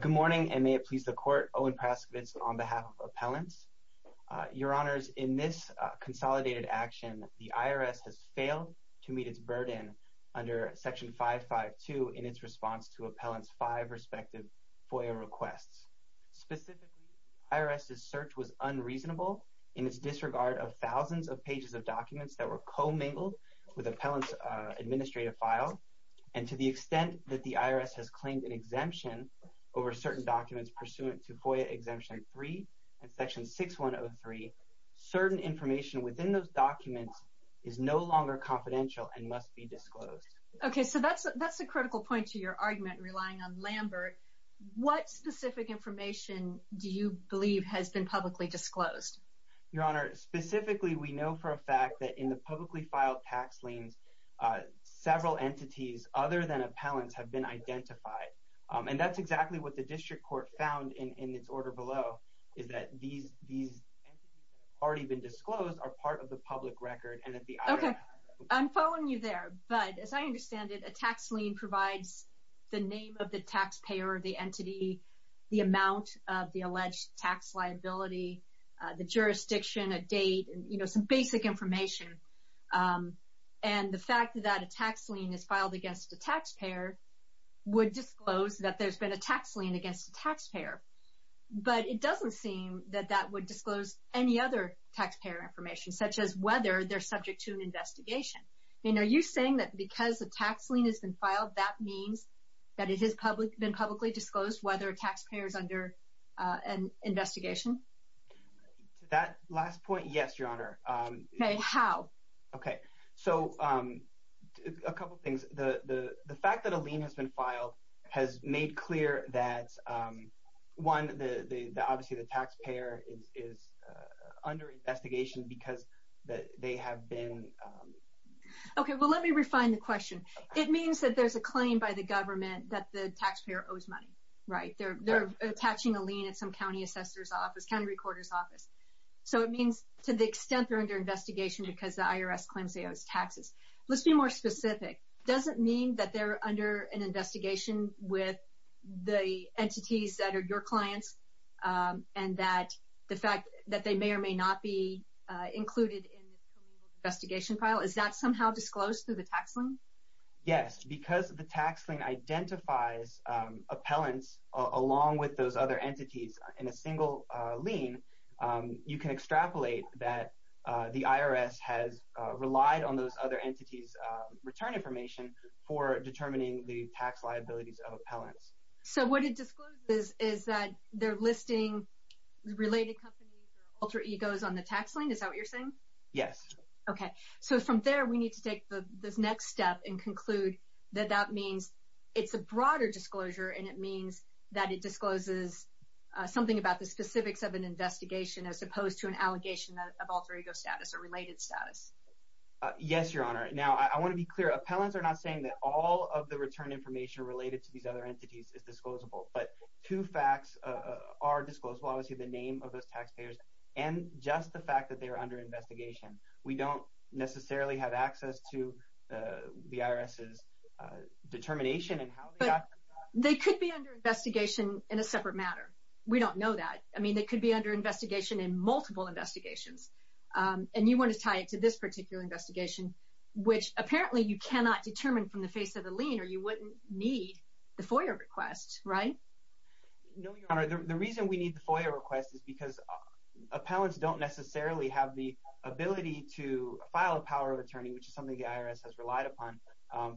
Good morning, and may it please the Court, Owen Praskowitz, on behalf of Appellants. Your Honors, in this consolidated action, the IRS has failed to meet its burden under Section 552 in its response to Appellants' five respective FOIA requests. Specifically, IRS's search was unreasonable in its disregard of thousands of pages of documents that were co-mingled with Appellants' administrative file, and to the extent that an exemption over certain documents pursuant to FOIA Exemption 3 and Section 6103, certain information within those documents is no longer confidential and must be disclosed. Okay, so that's a critical point to your argument, relying on Lambert. What specific information do you believe has been publicly disclosed? Your Honor, specifically, we know for a fact that in the publicly filed tax liens, several entities other than Appellants have been identified, and that's exactly what the District Court found in its order below, is that these entities that have already been disclosed are part of the public record, and that the IRS... Okay, I'm following you there, but as I understand it, a tax lien provides the name of the taxpayer or the entity, the amount of the alleged tax liability, the jurisdiction, a date, you know, some basic information. And the fact that a tax lien is filed against a taxpayer would disclose that there's been a tax lien against a taxpayer, but it doesn't seem that that would disclose any other taxpayer information, such as whether they're subject to an investigation. I mean, are you saying that because a tax lien has been filed, that means that it has been publicly disclosed whether a taxpayer is under an investigation? To that last point, yes, Your Honor. Okay, how? Okay, so a couple things. The fact that a lien has been filed has made clear that, one, that obviously the taxpayer is under investigation because they have been... Okay, well, let me refine the question. It means that there's a claim by the government that the taxpayer owes money, right? They're attaching a lien at some county assessor's office, county recorder's office. So it means to the extent they're under investigation because the IRS claims they owe taxes. Let's be more specific. Does it mean that they're under an investigation with the entities that are your clients and that the fact that they may or may not be included in the investigation file, is that somehow disclosed through the tax lien? Yes, because the tax lien identifies appellants along with those other entities in a single lien, you can extrapolate that the IRS has relied on those other entities' return information for determining the tax liabilities of appellants. So what it discloses is that they're listing related companies or alter egos on the tax lien? Is that what you're saying? Yes. Okay. So from there, we need to take this next step and conclude that that means it's a broader disclosure and it means that it discloses something about the specifics of an investigation as opposed to an allegation of alter ego status or related status. Yes, Your Honor. Now, I want to be clear. Appellants are not saying that all of the return information related to these other entities is disclosable, but two facts are disclosed, obviously the name of those taxpayers and just the fact that they are under investigation. We don't necessarily have access to the IRS's determination and how they got to that. They could be under investigation in a separate matter. We don't know that. I mean, they could be under investigation in multiple investigations. And you want to tie it to this particular investigation, which apparently you cannot determine from the face of the lien or you wouldn't need the FOIA request, right? No, Your Honor. The reason we need the FOIA request is because appellants don't necessarily have the ability to file a power of attorney, which is something the IRS has relied upon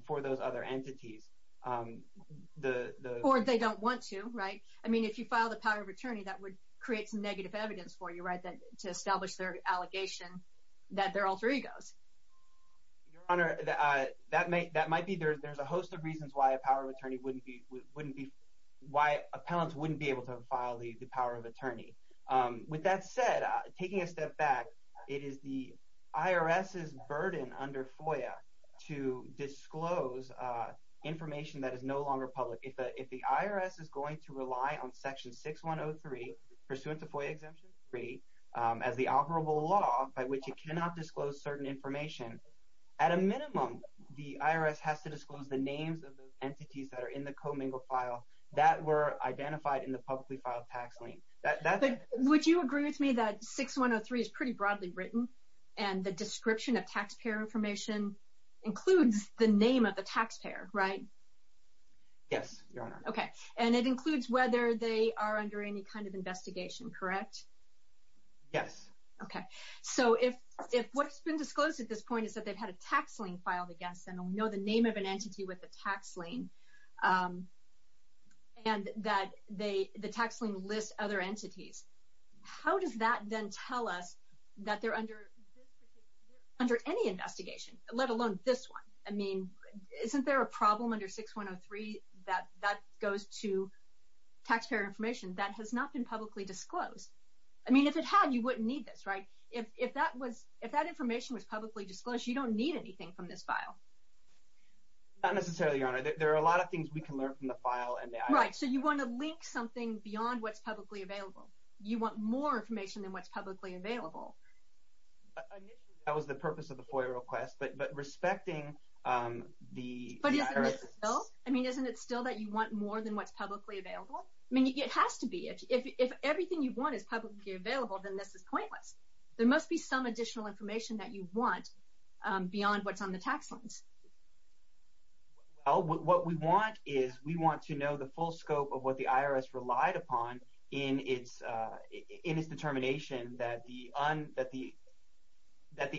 for those other entities. Or they don't want to, right? I mean, if you file the power of attorney, that would create some negative evidence for you, right? To establish their allegation that they're alter egos. Your Honor, that might be. There's a host of reasons why an appellant wouldn't be able to file the power of attorney. With that said, taking a step back, it is the IRS's burden under FOIA to disclose information that is no longer public. If the IRS is going to rely on Section 6103, pursuant to FOIA Exemption 3, as the operable law by which it cannot disclose certain information, at a minimum, the IRS has to disclose the names of the entities that are in the commingled file that were identified in the publicly filed tax lien. Would you agree with me that 6103 is pretty broadly written and the description of taxpayer information includes the name of the taxpayer, right? Yes, Your Honor. Okay. And it includes whether they are under any kind of investigation, correct? Yes. Okay. So, if what's been disclosed at this point is that they've had a tax lien filed against them and we know the name of an entity with a tax lien, and that the tax lien lists other entities, how does that then tell us that they're under any investigation, let alone this one? I mean, isn't there a problem under 6103 that that goes to taxpayer information that has not been publicly disclosed? I mean, if it had, you wouldn't need this, right? If that information was publicly disclosed, you don't need anything from this file. Not necessarily, Your Honor. There are a lot of things we can learn from the file and the IRS. Right. So, you want to link something beyond what's publicly available. You want more information than what's publicly available. Initially, that was the purpose of the FOIA request, but respecting the IRS... But isn't it still that you want more than what's publicly available? I mean, it has to be. If everything you want is publicly available, then this is pointless. There must be some additional information that you want beyond what's on the tax liens. Well, what we want is we want to know the full scope of what the IRS relied upon in its determination that the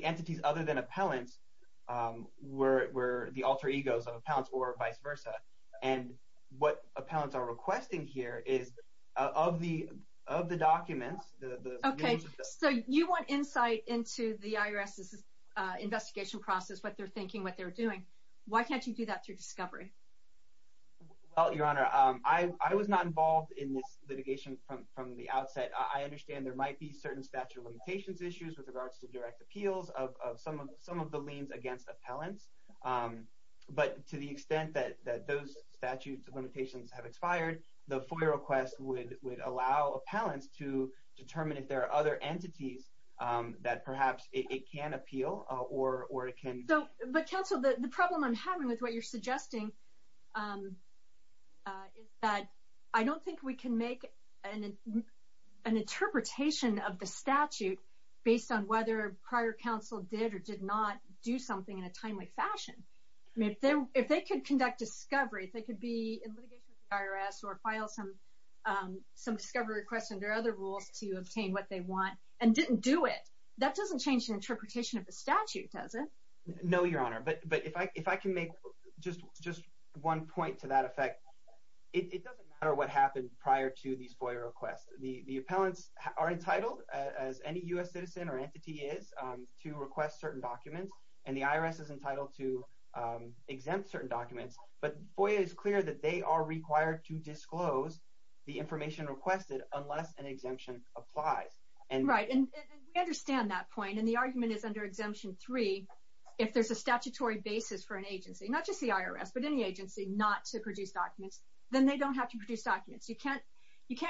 entities other than appellants were the alter egos of appellants or vice versa. And what appellants are requesting here is of the documents... Okay. So, you want insight into the IRS's investigation process, what they're thinking, what they're doing. Why can't you do that through discovery? Well, Your Honor, I was not involved in this litigation from the outset. I understand there might be certain statute of limitations issues with regards to direct appeals of some of the liens against appellants. But to the extent that those statute of limitations have expired, the FOIA request would allow appellants to determine if there are other entities that perhaps it can appeal or it can... So, but counsel, the problem I'm having with what you're suggesting is that I don't think we can make an interpretation of the statute based on whether prior counsel did or did not do something in a timely fashion. If they could conduct discovery, if they could be in litigation with the IRS or file some discovery request under other rules to obtain what they want and didn't do it, that doesn't change the interpretation of the statute, does it? No, Your Honor. But if I can make just one point to that effect, it doesn't matter what happened prior to these FOIA requests. The appellants are entitled, as any U.S. citizen or entity is, to request certain documents, and the IRS is entitled to exempt certain documents. But FOIA is clear that they are required to disclose the information requested unless an exemption applies. And... Right. And we understand that point. And the argument is under Exemption 3, if there's a statutory basis for an agency, not just the IRS, but any agency, not to produce documents, then they don't have to produce documents. You can't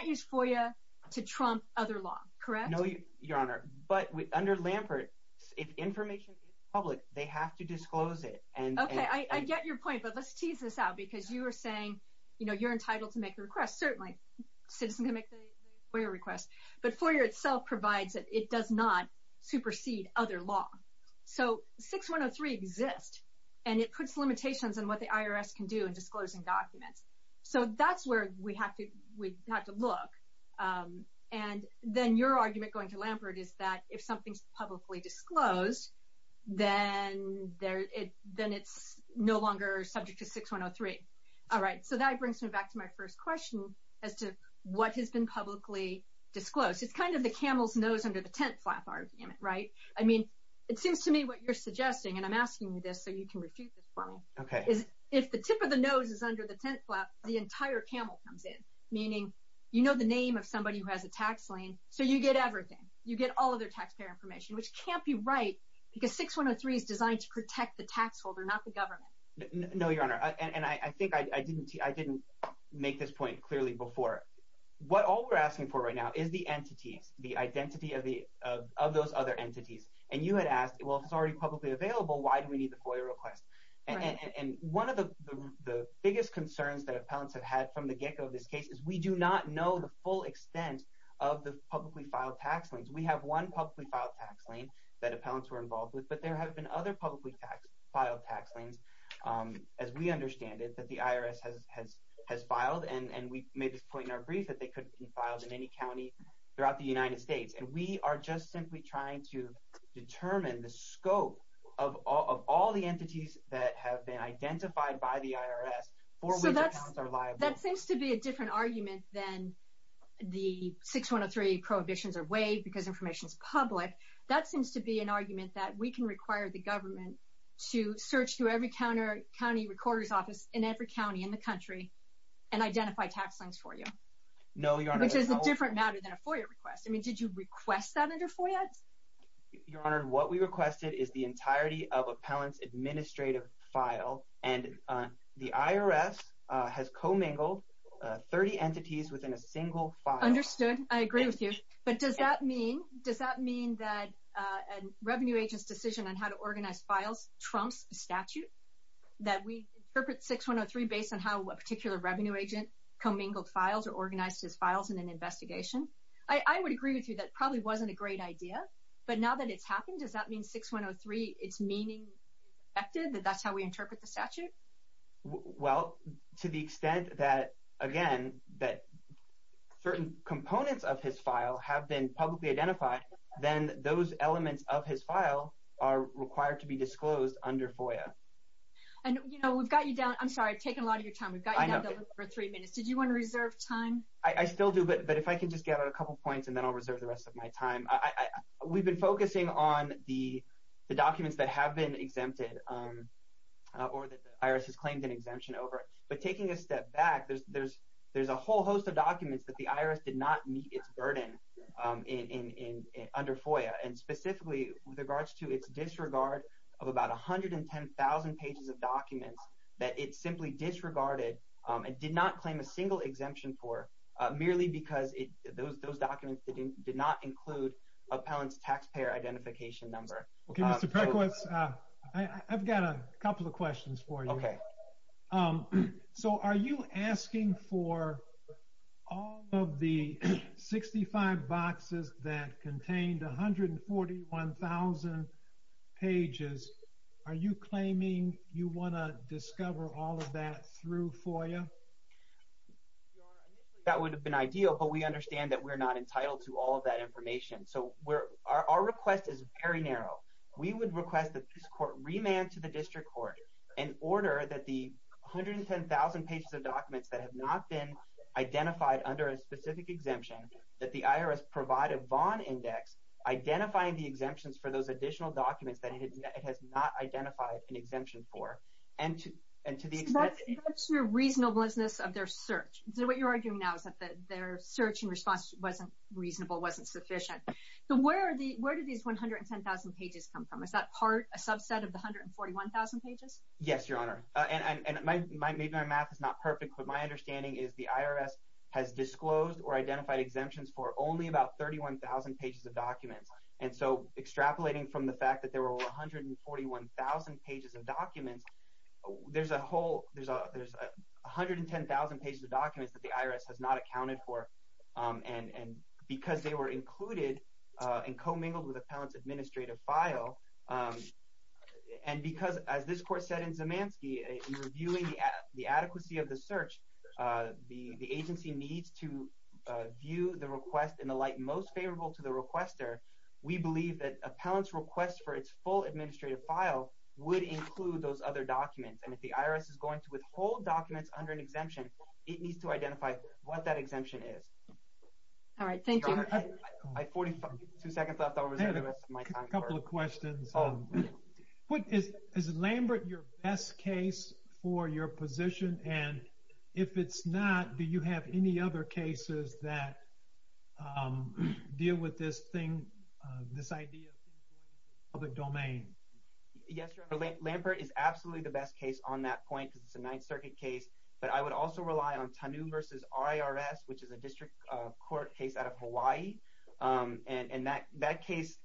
use FOIA to trump other law, correct? No, Your Honor. But under Lampert, if information is public, they have to disclose it. Okay. I get your point. But let's tease this out, because you were saying, you know, you're entitled to make a request. Certainly, a citizen can make a FOIA request. But FOIA itself provides that it does not supersede other law. So 6103 exists, and it puts limitations on what the IRS can do in disclosing documents. So that's where we have to look. And then your argument going to Lampert is that if something's publicly disclosed, then it's no longer subject to 6103. All right. So that brings me back to my first question as to what has been publicly disclosed. It's kind of the camel's nose under the tent flap argument, right? I mean, it seems to me what you're suggesting, and I'm asking you this so you can refute this for me. Okay. So what you're saying is if the tip of the nose is under the tent flap, the entire camel comes in. Meaning, you know the name of somebody who has a tax lien, so you get everything. You get all of their taxpayer information, which can't be right, because 6103 is designed to protect the tax holder, not the government. No, Your Honor. And I think I didn't make this point clearly before. What all we're asking for right now is the entities, the identity of those other entities. And you had asked, well, if it's already publicly available, why do we need the FOIA request? Right. And one of the biggest concerns that appellants have had from the get-go of this case is we do not know the full extent of the publicly filed tax liens. We have one publicly filed tax lien that appellants were involved with, but there have been other publicly filed tax liens, as we understand it, that the IRS has filed. And we made this point in our brief that they could be filed in any county throughout the United States. And we are just simply trying to determine the scope of all the entities that have been identified by the IRS for which appellants are liable. That seems to be a different argument than the 6103 prohibitions are waived because information is public. That seems to be an argument that we can require the government to search through every county recorder's office in every county in the country and identify tax liens for you. No, Your Honor. Which is a different matter than a FOIA request. I mean, did you request that under FOIA? Your Honor, what we requested is the entirety of an appellant's administrative file. And the IRS has co-mingled 30 entities within a single file. Understood. I agree with you. But does that mean that a revenue agent's decision on how to organize files trumps statute? That we interpret 6103 based on how a particular revenue agent co-mingled files or organized his files in an investigation? I would agree with you. That probably wasn't a great idea. But now that it's happened, does that mean 6103, it's meaning that that's how we interpret the statute? Well, to the extent that, again, that certain components of his file have been publicly identified, then those elements of his file are required to be disclosed under FOIA. And you know, we've got you down. I'm sorry. I've taken a lot of your time. I know. We've got you down for three minutes. Did you want to reserve time? I still do. But if I can just get a couple points and then I'll reserve the rest of my time. We've been focusing on the documents that have been exempted or that the IRS has claimed an exemption over. But taking a step back, there's a whole host of documents that the IRS did not meet its burden under FOIA. And specifically, with regards to its disregard of about 110,000 pages of documents that it merely because those documents did not include a parent's taxpayer identification number. Okay, Mr. Perkowitz, I've got a couple of questions for you. Okay. So, are you asking for all of the 65 boxes that contained 141,000 pages, are you claiming you want to discover all of that through FOIA? That would have been ideal, but we understand that we're not entitled to all of that information. So, our request is very narrow. We would request that this court remand to the district court in order that the 110,000 pages of documents that have not been identified under a specific exemption, that the IRS provide a Vaughn Index identifying the exemptions for those additional documents that it has not identified an exemption for. So, that's your reasonableness of their search. So, what you're arguing now is that their search and response wasn't reasonable, wasn't sufficient. So, where did these 110,000 pages come from? Is that part, a subset of the 141,000 pages? Yes, Your Honor. And maybe my math is not perfect, but my understanding is the IRS has disclosed or identified exemptions for only about 31,000 pages of documents. And so, extrapolating from the fact that there were 141,000 pages of documents, there's a whole, there's 110,000 pages of documents that the IRS has not accounted for, and because they were included and commingled with a Pellant's administrative file, and because, as this court said in Zemanski, in reviewing the adequacy of the search, the agency needs to view the request there, we believe that a Pellant's request for its full administrative file would include those other documents. And if the IRS is going to withhold documents under an exemption, it needs to identify what that exemption is. All right. Thank you. Your Honor, I have 42 seconds left over the rest of my time. I have a couple of questions. Is Lambert your best case for your position? And if it's not, do you have any other cases that deal with this thing, this idea of public domain? Yes, Your Honor. Lambert is absolutely the best case on that point because it's a Ninth Circuit case, but I would also rely on Tanu v. IRS, which is a district court case out of Hawaii, and that case,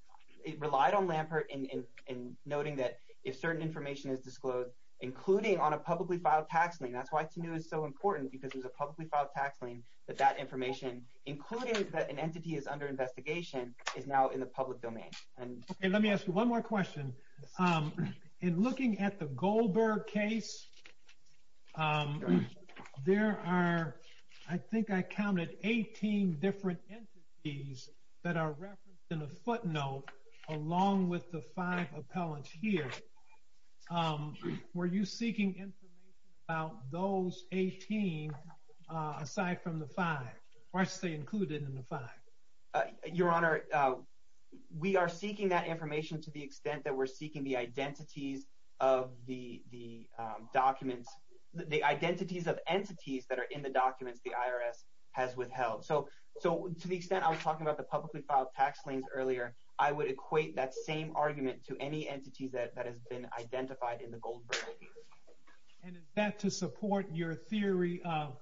it relied on Lambert in noting that if certain information is disclosed, including on a publicly filed tax lien, that's why Tanu is so important, because there's a publicly filed tax lien that that information, including that an entity is under investigation, is now in the public domain. And let me ask you one more question. In looking at the Goldberg case, there are, I think I counted, 18 different entities that are referenced in the footnote along with the five appellants here. Were you seeking information about those 18 aside from the five, or I should say included in the five? Your Honor, we are seeking that information to the extent that we're seeking the identities of the documents, the identities of entities that are in the documents the IRS has withheld. So to the extent I was talking about the publicly filed tax liens earlier, I would equate that same argument to any entities that has been identified in the Goldberg case. And is that to support your theory of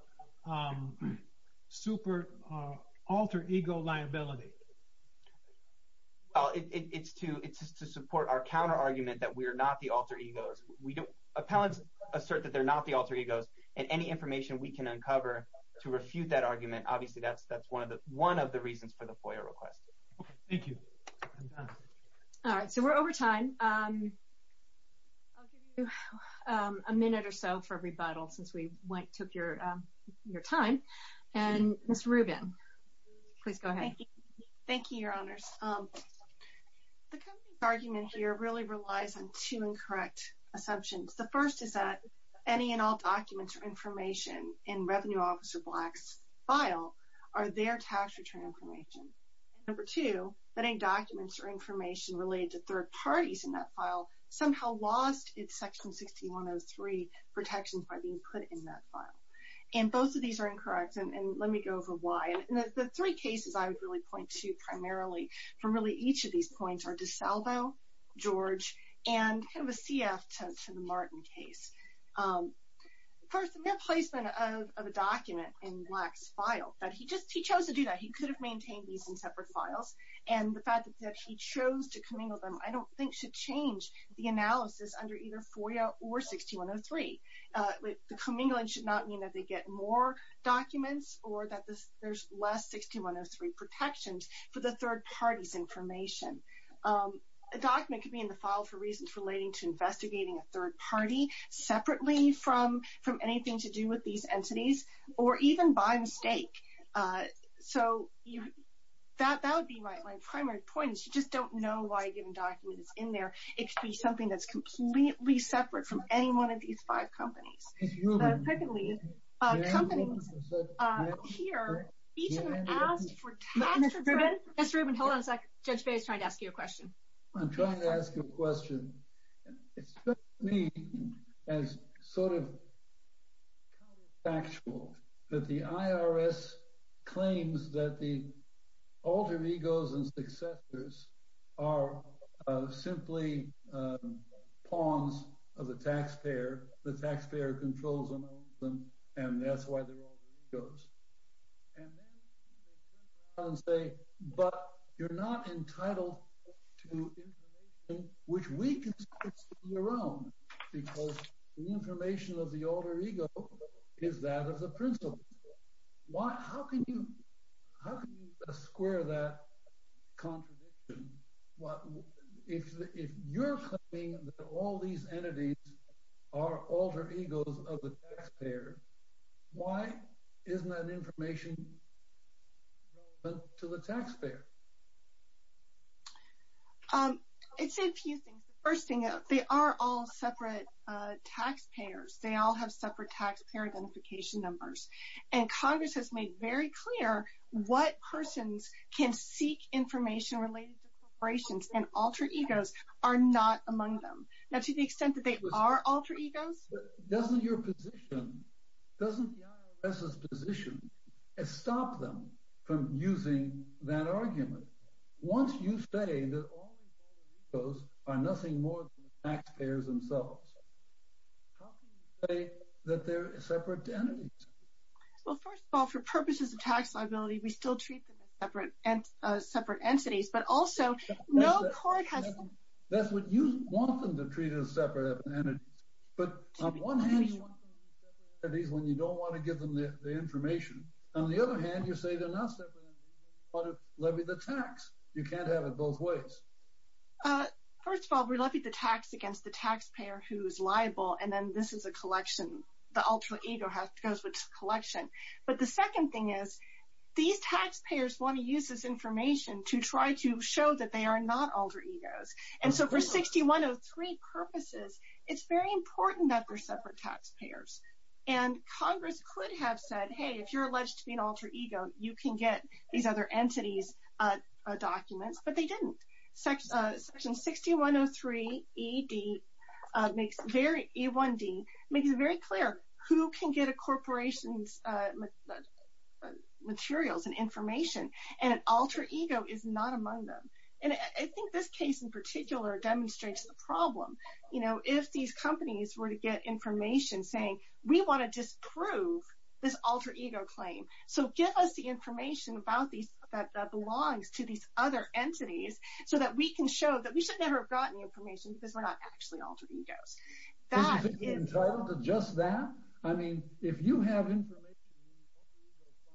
super alter ego liability? It's to support our counter argument that we are not the alter egos. Appellants assert that they're not the alter egos, and any information we can uncover to that's one of the reasons for the FOIA request. Thank you. All right, so we're over time. I'll give you a minute or so for rebuttal since we took your time. And Ms. Rubin, please go ahead. Thank you, Your Honors. The company's argument here really relies on two incorrect assumptions. The first is that any and all documents or information in Revenue Officer Black's file are their tax return information. And number two, that any documents or information related to third parties in that file somehow lost its Section 6103 protections by being put in that file. And both of these are incorrect, and let me go over why. And the three cases I would really point to primarily from really each of these points are DiSalvo, George, and kind of a CF to the Martin case. First, the mere placement of a document in Black's file, that he chose to do that. He could have maintained these in separate files. And the fact that he chose to commingle them I don't think should change the analysis under either FOIA or 6103. The commingling should not mean that they get more documents or that there's less 6103 protections for the third party's information. A document could be in the file for reasons relating to investigating a third party separately from anything to do with these entities or even by mistake. So that would be my primary point is you just don't know why a given document is in there. It could be something that's completely separate from any one of these five companies. Mr. Rubin, hold on a second. Judge Bey is trying to ask you a question. I'm trying to ask you a question. It's sort of factual that the IRS claims that the alter egos and successors are simply pawns of the taxpayer. The taxpayer controls them and that's why they're alter egos. And then they turn around and say, but you're not entitled to information which we consider to be your own because the information of the alter ego is that of the principal. How can you square that contradiction? If you're claiming that all these entities are alter egos of the taxpayer, why isn't that information relevant to the taxpayer? I'd say a few things. The first thing, they are all separate taxpayers. They all have separate taxpayer identification numbers. And Congress has made very clear what persons can seek information related to corporations and alter egos are not among them. Now, to the extent that they are alter egos... But doesn't your position, doesn't the IRS's position stop them from using that argument? Once you say that all these alter egos are nothing more than the taxpayers themselves, how can you say that they're separate entities? Well, first of all, for purposes of tax liability, we still treat them as separate entities. But also, no court has... That's what you want them to treat as separate entities. But on one hand, you want them as separate entities when you don't want to give them the information. On the other hand, you say they're not separate entities when you want to levy the tax. You can't have it both ways. First of all, we levy the tax against the taxpayer who is liable, and then this is a collection. The alter ego goes with the collection. But the second thing is, these taxpayers want to use this information to try to show that they are not alter egos. And so for 6103 purposes, it's very important that they're separate taxpayers. And Congress could have said, hey, if you're alleged to be an alter ego, you can get these other entities' documents, but they didn't. Section 6103E1D makes it very clear who can get a corporation's materials and information, and an alter ego is not among them. And I think this case in particular demonstrates the problem. If these companies were to get information saying, we want to disprove this alter ego claim, so give us the information that belongs to these other entities, so that we can show that we should never have gotten information because we're not actually alter egos. Isn't it entitled to just that? I mean, if you have information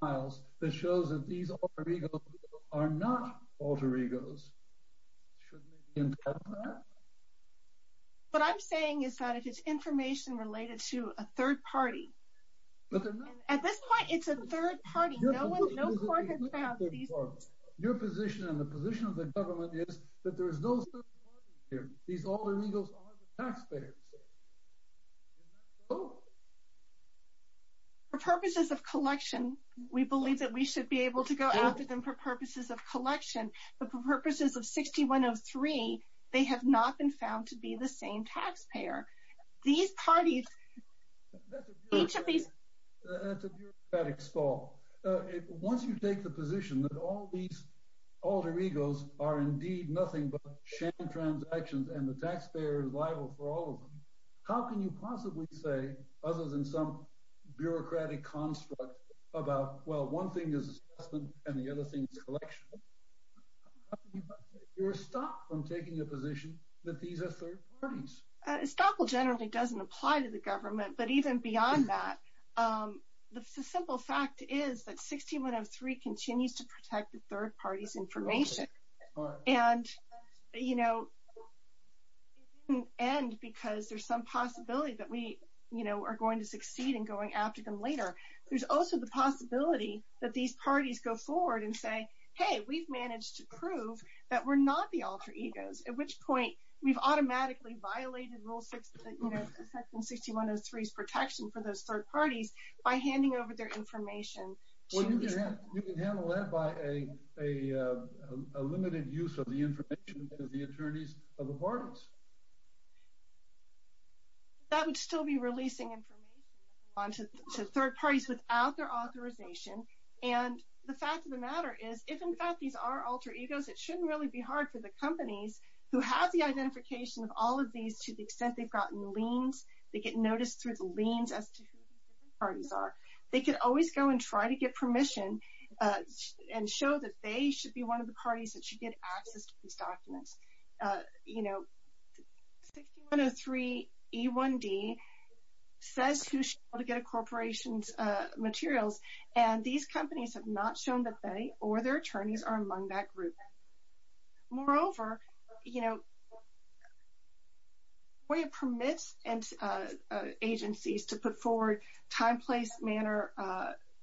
in these alter ego files that shows that these alter egos are not alter egos, shouldn't it be entitled to that? What I'm saying is that if it's information related to a third party, at this point, it's a third party. No court has found these. Your position and the position of the government is that there is no third party here. These alter egos are the taxpayers. Isn't that so? For purposes of collection, we believe that we should be able to go after them for purposes of collection, but for purposes of 6103, they have not been found to be the same taxpayer. That's a bureaucratic stall. Once you take the position that all these alter egos are indeed nothing but sham transactions and the taxpayer is liable for all of them, how can you possibly say, other than some bureaucratic construct, about, well, one thing is assessment and the other thing is collection? You're stopped from taking a position that these are third parties. Estoppel generally doesn't apply to the government, but even beyond that, the simple fact is that 6103 continues to protect the third party's information. It didn't end because there's some possibility that we are going to succeed in going after them later. There's also the possibility that these parties go forward and say, hey, we've managed to prove that we're not the alter egos, at which point we've automatically violated rule 6 in 6103's protection for those third parties by handing over their information. Well, you can handle that by a limited use of the information of the attorneys of the parties. That would still be releasing information on to third parties without their authorization, and the fact of the matter is, if in fact these are alter egos, it shouldn't really be hard for the companies who have the identification of all of these to the extent they've gotten liens. They get noticed through the liens as to who the different parties are. They could always go and try to get permission and show that they should be one of the parties that should get access to these documents. You know, 6103 E1D says who should be able to get a corporation's materials, and these companies have not shown that they or their attorneys are among that group. Moreover, you know, FOIA permits agencies to put forward time, place, manner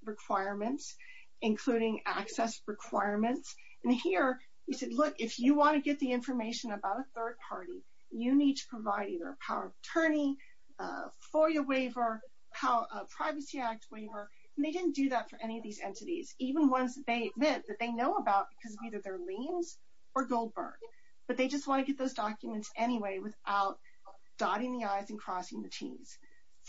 requirements, including access requirements, and here you said, look, if you want to get the information about a third party, you need to provide either a power of attorney, FOIA waiver, Privacy Act waiver, and they didn't do that for any of these entities, even ones that they admit that they know about because of either their liens or Goldberg, but they just want to get those documents anyway without dotting the i's and crossing the t's.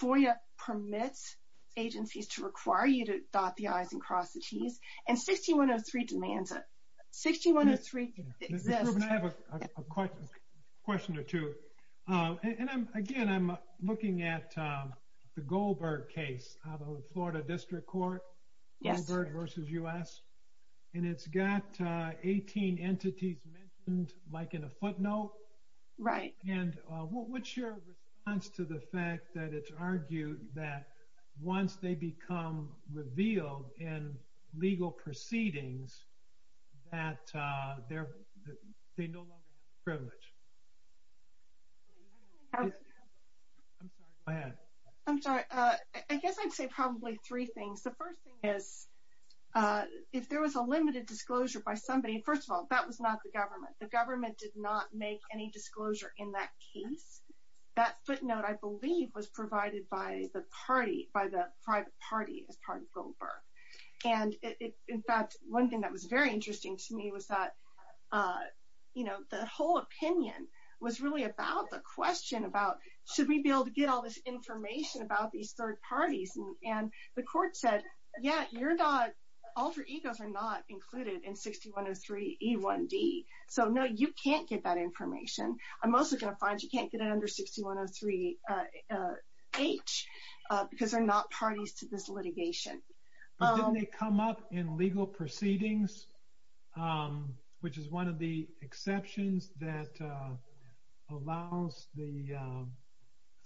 FOIA permits agencies to require you to dot the i's and cross the t's, and 6103 demands it. 6103 exists. I have a question or two, and again, I'm looking at the Goldberg case out of the Florida District Court, Goldberg versus U.S., and it's got 18 entities mentioned like in a footnote. Right. And what's your response to the fact that it's argued that once they become revealed in legal proceedings that they no longer have the privilege? Go ahead. I'm sorry. I guess I'd say probably three things. The first thing is if there was a limited disclosure by somebody, first of all, that was not the government. The government did not make any disclosure in that case. That footnote, I believe, was provided by the party, by the private party as part of Goldberg, and in fact, one thing that was very interesting to me was that the whole opinion was really about the question about should we be able to get all this information about these third parties, and the court said, yeah, alter egos are not included in 6103E1D. So, no, you can't get that information. I'm mostly going to find you can't get it under 6103H because they're not parties to this litigation. But didn't they come up in legal proceedings, which is one of the exceptions that allows the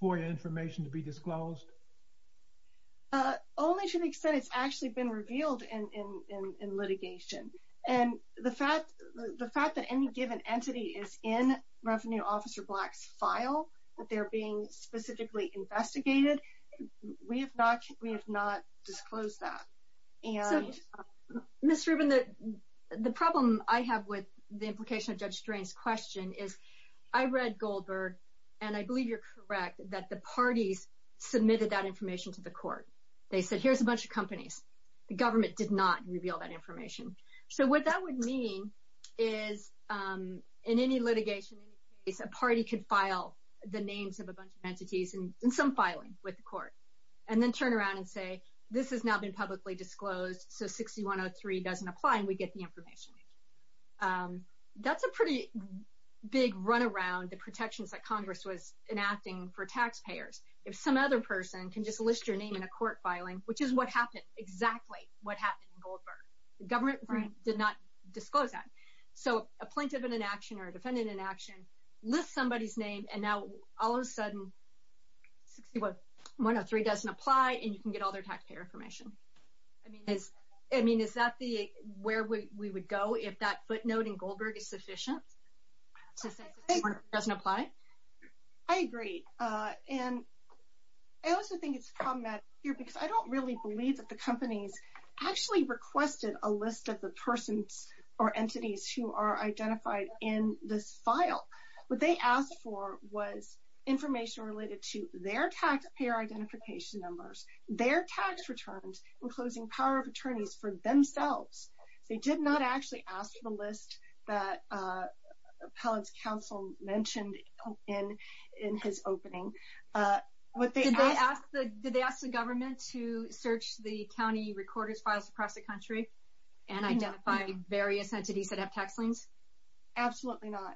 FOIA information to be disclosed? Only to the extent it's actually been revealed in litigation. The fact that any given entity is in Revenue Officer Black's file, that they're being specifically investigated, we have not disclosed that. Ms. Rubin, the problem I have with the implication of Judge Drain's question is I read Goldberg, and I believe you're correct that the parties submitted that information to the court. The government did not reveal that information. So what that would mean is in any litigation, in any case, a party could file the names of a bunch of entities, and some filing with the court, and then turn around and say, this has not been publicly disclosed, so 6103 doesn't apply, and we get the information. That's a pretty big runaround, the protections that Congress was enacting for taxpayers. If some other person can just list your name in a court filing, which is what happened, exactly what happened in Goldberg, the government did not disclose that. So a plaintiff in an action or a defendant in an action lists somebody's name, and now all of a sudden 6103 doesn't apply, and you can get all their taxpayer information. I mean, is that where we would go if that footnote in Goldberg is sufficient, since 6103 doesn't apply? I agree, and I also think it's problematic here, because I don't really believe that the companies actually requested a list of the persons or entities who are identified in this file. What they asked for was information related to their taxpayer identification numbers, their tax returns, and closing power of attorneys for themselves. They did not actually ask for the list that appellant's counsel mentioned in his opening. Did they ask the government to search the county recorders' files across the country and identify various entities that have tax liens? Absolutely not.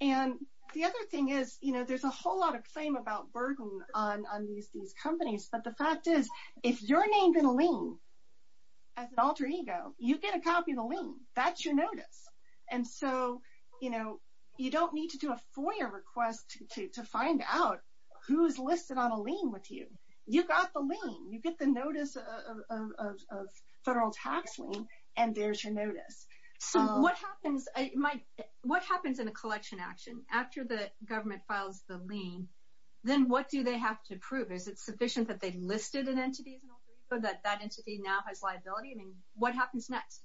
And the other thing is, you know, there's a whole lot of claim about burden on these companies, but the fact is, if you're named in a lien as an alter ego, you get a copy of the lien. That's your notice. And so, you know, you don't need to do a FOIA request to find out who's listed on a lien with you. You got the lien. You get the notice of federal tax lien, and there's your notice. So what happens in a collection action after the government files the lien, then what do they have to prove? Is it sufficient that they listed an entity as an alter ego, that that entity now has liability? I mean, what happens next?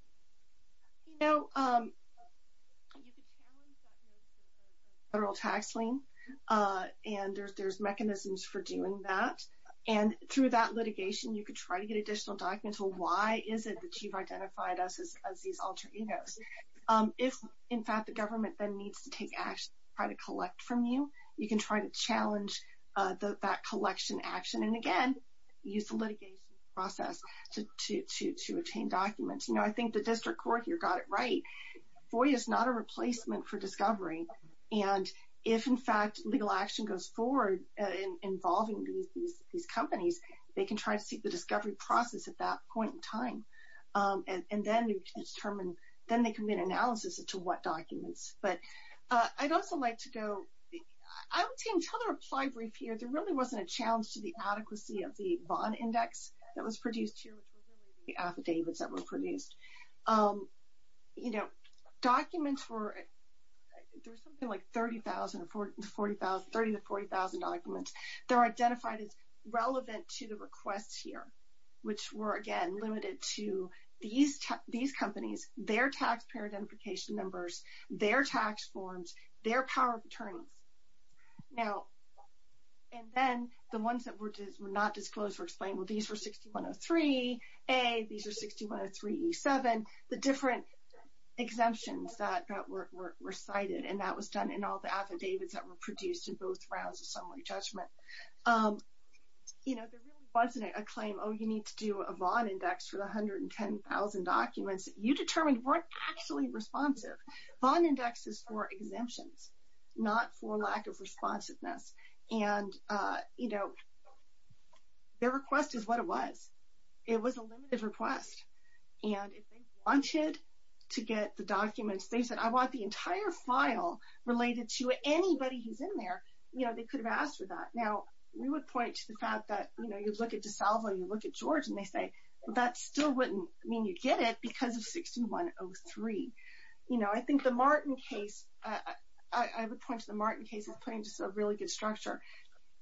You know, you could challenge that notice of a federal tax lien, and there's mechanisms for doing that. And through that litigation, you could try to get additional documents. Well, why is it that you've identified us as these alter egos? If, in fact, the government then needs to take action to try to collect from you, you can try to challenge that collection action and, again, use the litigation process to obtain documents. You know, I think the district court here got it right. FOIA is not a replacement for discovery. And if, in fact, legal action goes forward involving these companies, they can try to seek the discovery process at that point in time, and then they can make an analysis as to what documents. But I'd also like to go to the reply brief here. There really wasn't a challenge to the adequacy of the bond index that was produced here, which was really the affidavits that were produced. You know, documents were 30,000 to 40,000 documents. They were identified as relevant to the requests here, which were, again, limited to these companies, their taxpayer identification numbers, their tax forms, their power of attorneys. Now, and then the ones that were not disclosed were explained, well, these were 6103A, these were 6103E7, the different exemptions that were cited, and that was done in all the affidavits that were produced in both rounds of summary judgment. You know, there really wasn't a claim, oh, you need to do a bond index for the 110,000 documents. You determined weren't actually responsive. Bond index is for exemptions, not for lack of responsiveness. And, you know, their request is what it was. It was a limited request. And if they wanted to get the documents, they said, I want the entire file related to anybody who's in there, you know, they could have asked for that. Now, we would point to the fact that, you know, you look at DeSalvo, you look at George, and they say, well, that still wouldn't mean you'd get it because of 6103. You know, I think the Martin case, I would point to the Martin case as putting just a really good structure.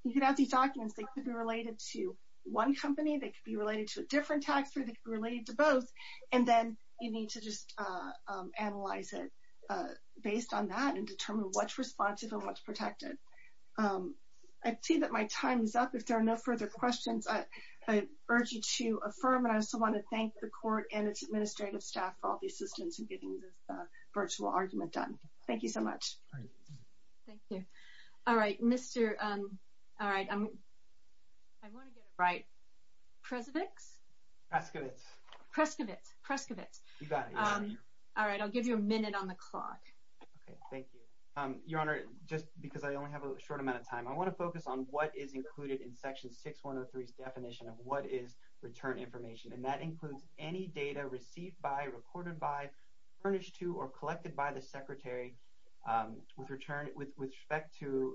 You can have these documents, they could be related to one company, they could be related to a different taxpayer, they could be related to both, and then you need to just analyze it based on that and determine what's responsive and what's protected. I see that my time is up. If there are no further questions, I urge you to affirm, and I also want to thank the court and its administrative staff for all the assistance in getting this virtual argument done. Thank you so much. Thank you. All right, Mr. All right, I'm going to get it right. Presivix? Prescovitz. Prescovitz. Prescovitz. You got it. All right, I'll give you a minute on the clock. Okay, thank you. Your Honor, just because I only have a short amount of time, I want to focus on what is included in Section 6103's definition of what is return information, and that includes any data received by, recorded by, furnished to, or collected by the Secretary with respect to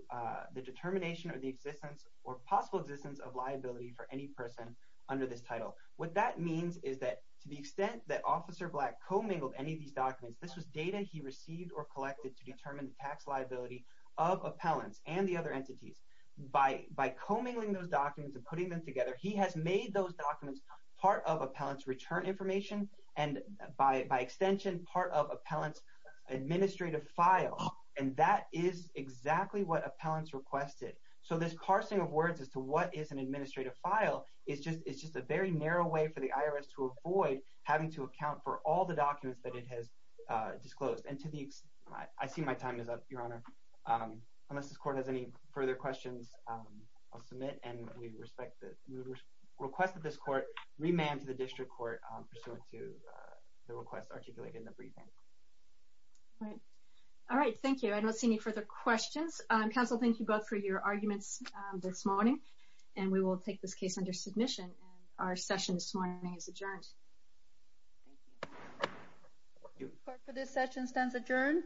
the determination of the existence or possible existence of liability for any person under this title. What that means is that to the extent that Officer Black co-mingled any of these documents, this was data he received or collected to determine the tax liability of appellants and the other entities. By co-mingling those documents and putting them together, he has made those documents part of appellants' return information and by extension part of appellants' administrative file, and that is exactly what appellants requested. So this parsing of words as to what is an administrative file is just a very narrow way for the IRS to avoid having to account for all the documents that it has disclosed. I see my time is up, Your Honor. Unless this Court has any further questions, I'll submit, and we respect the request of this Court, remand to the District Court pursuant to the request articulated in the briefing. All right, thank you. I don't see any further questions. Counsel, thank you both for your arguments this morning, and we will take this case under submission. And our session this morning is adjourned. Thank you. Court for this session stands adjourned.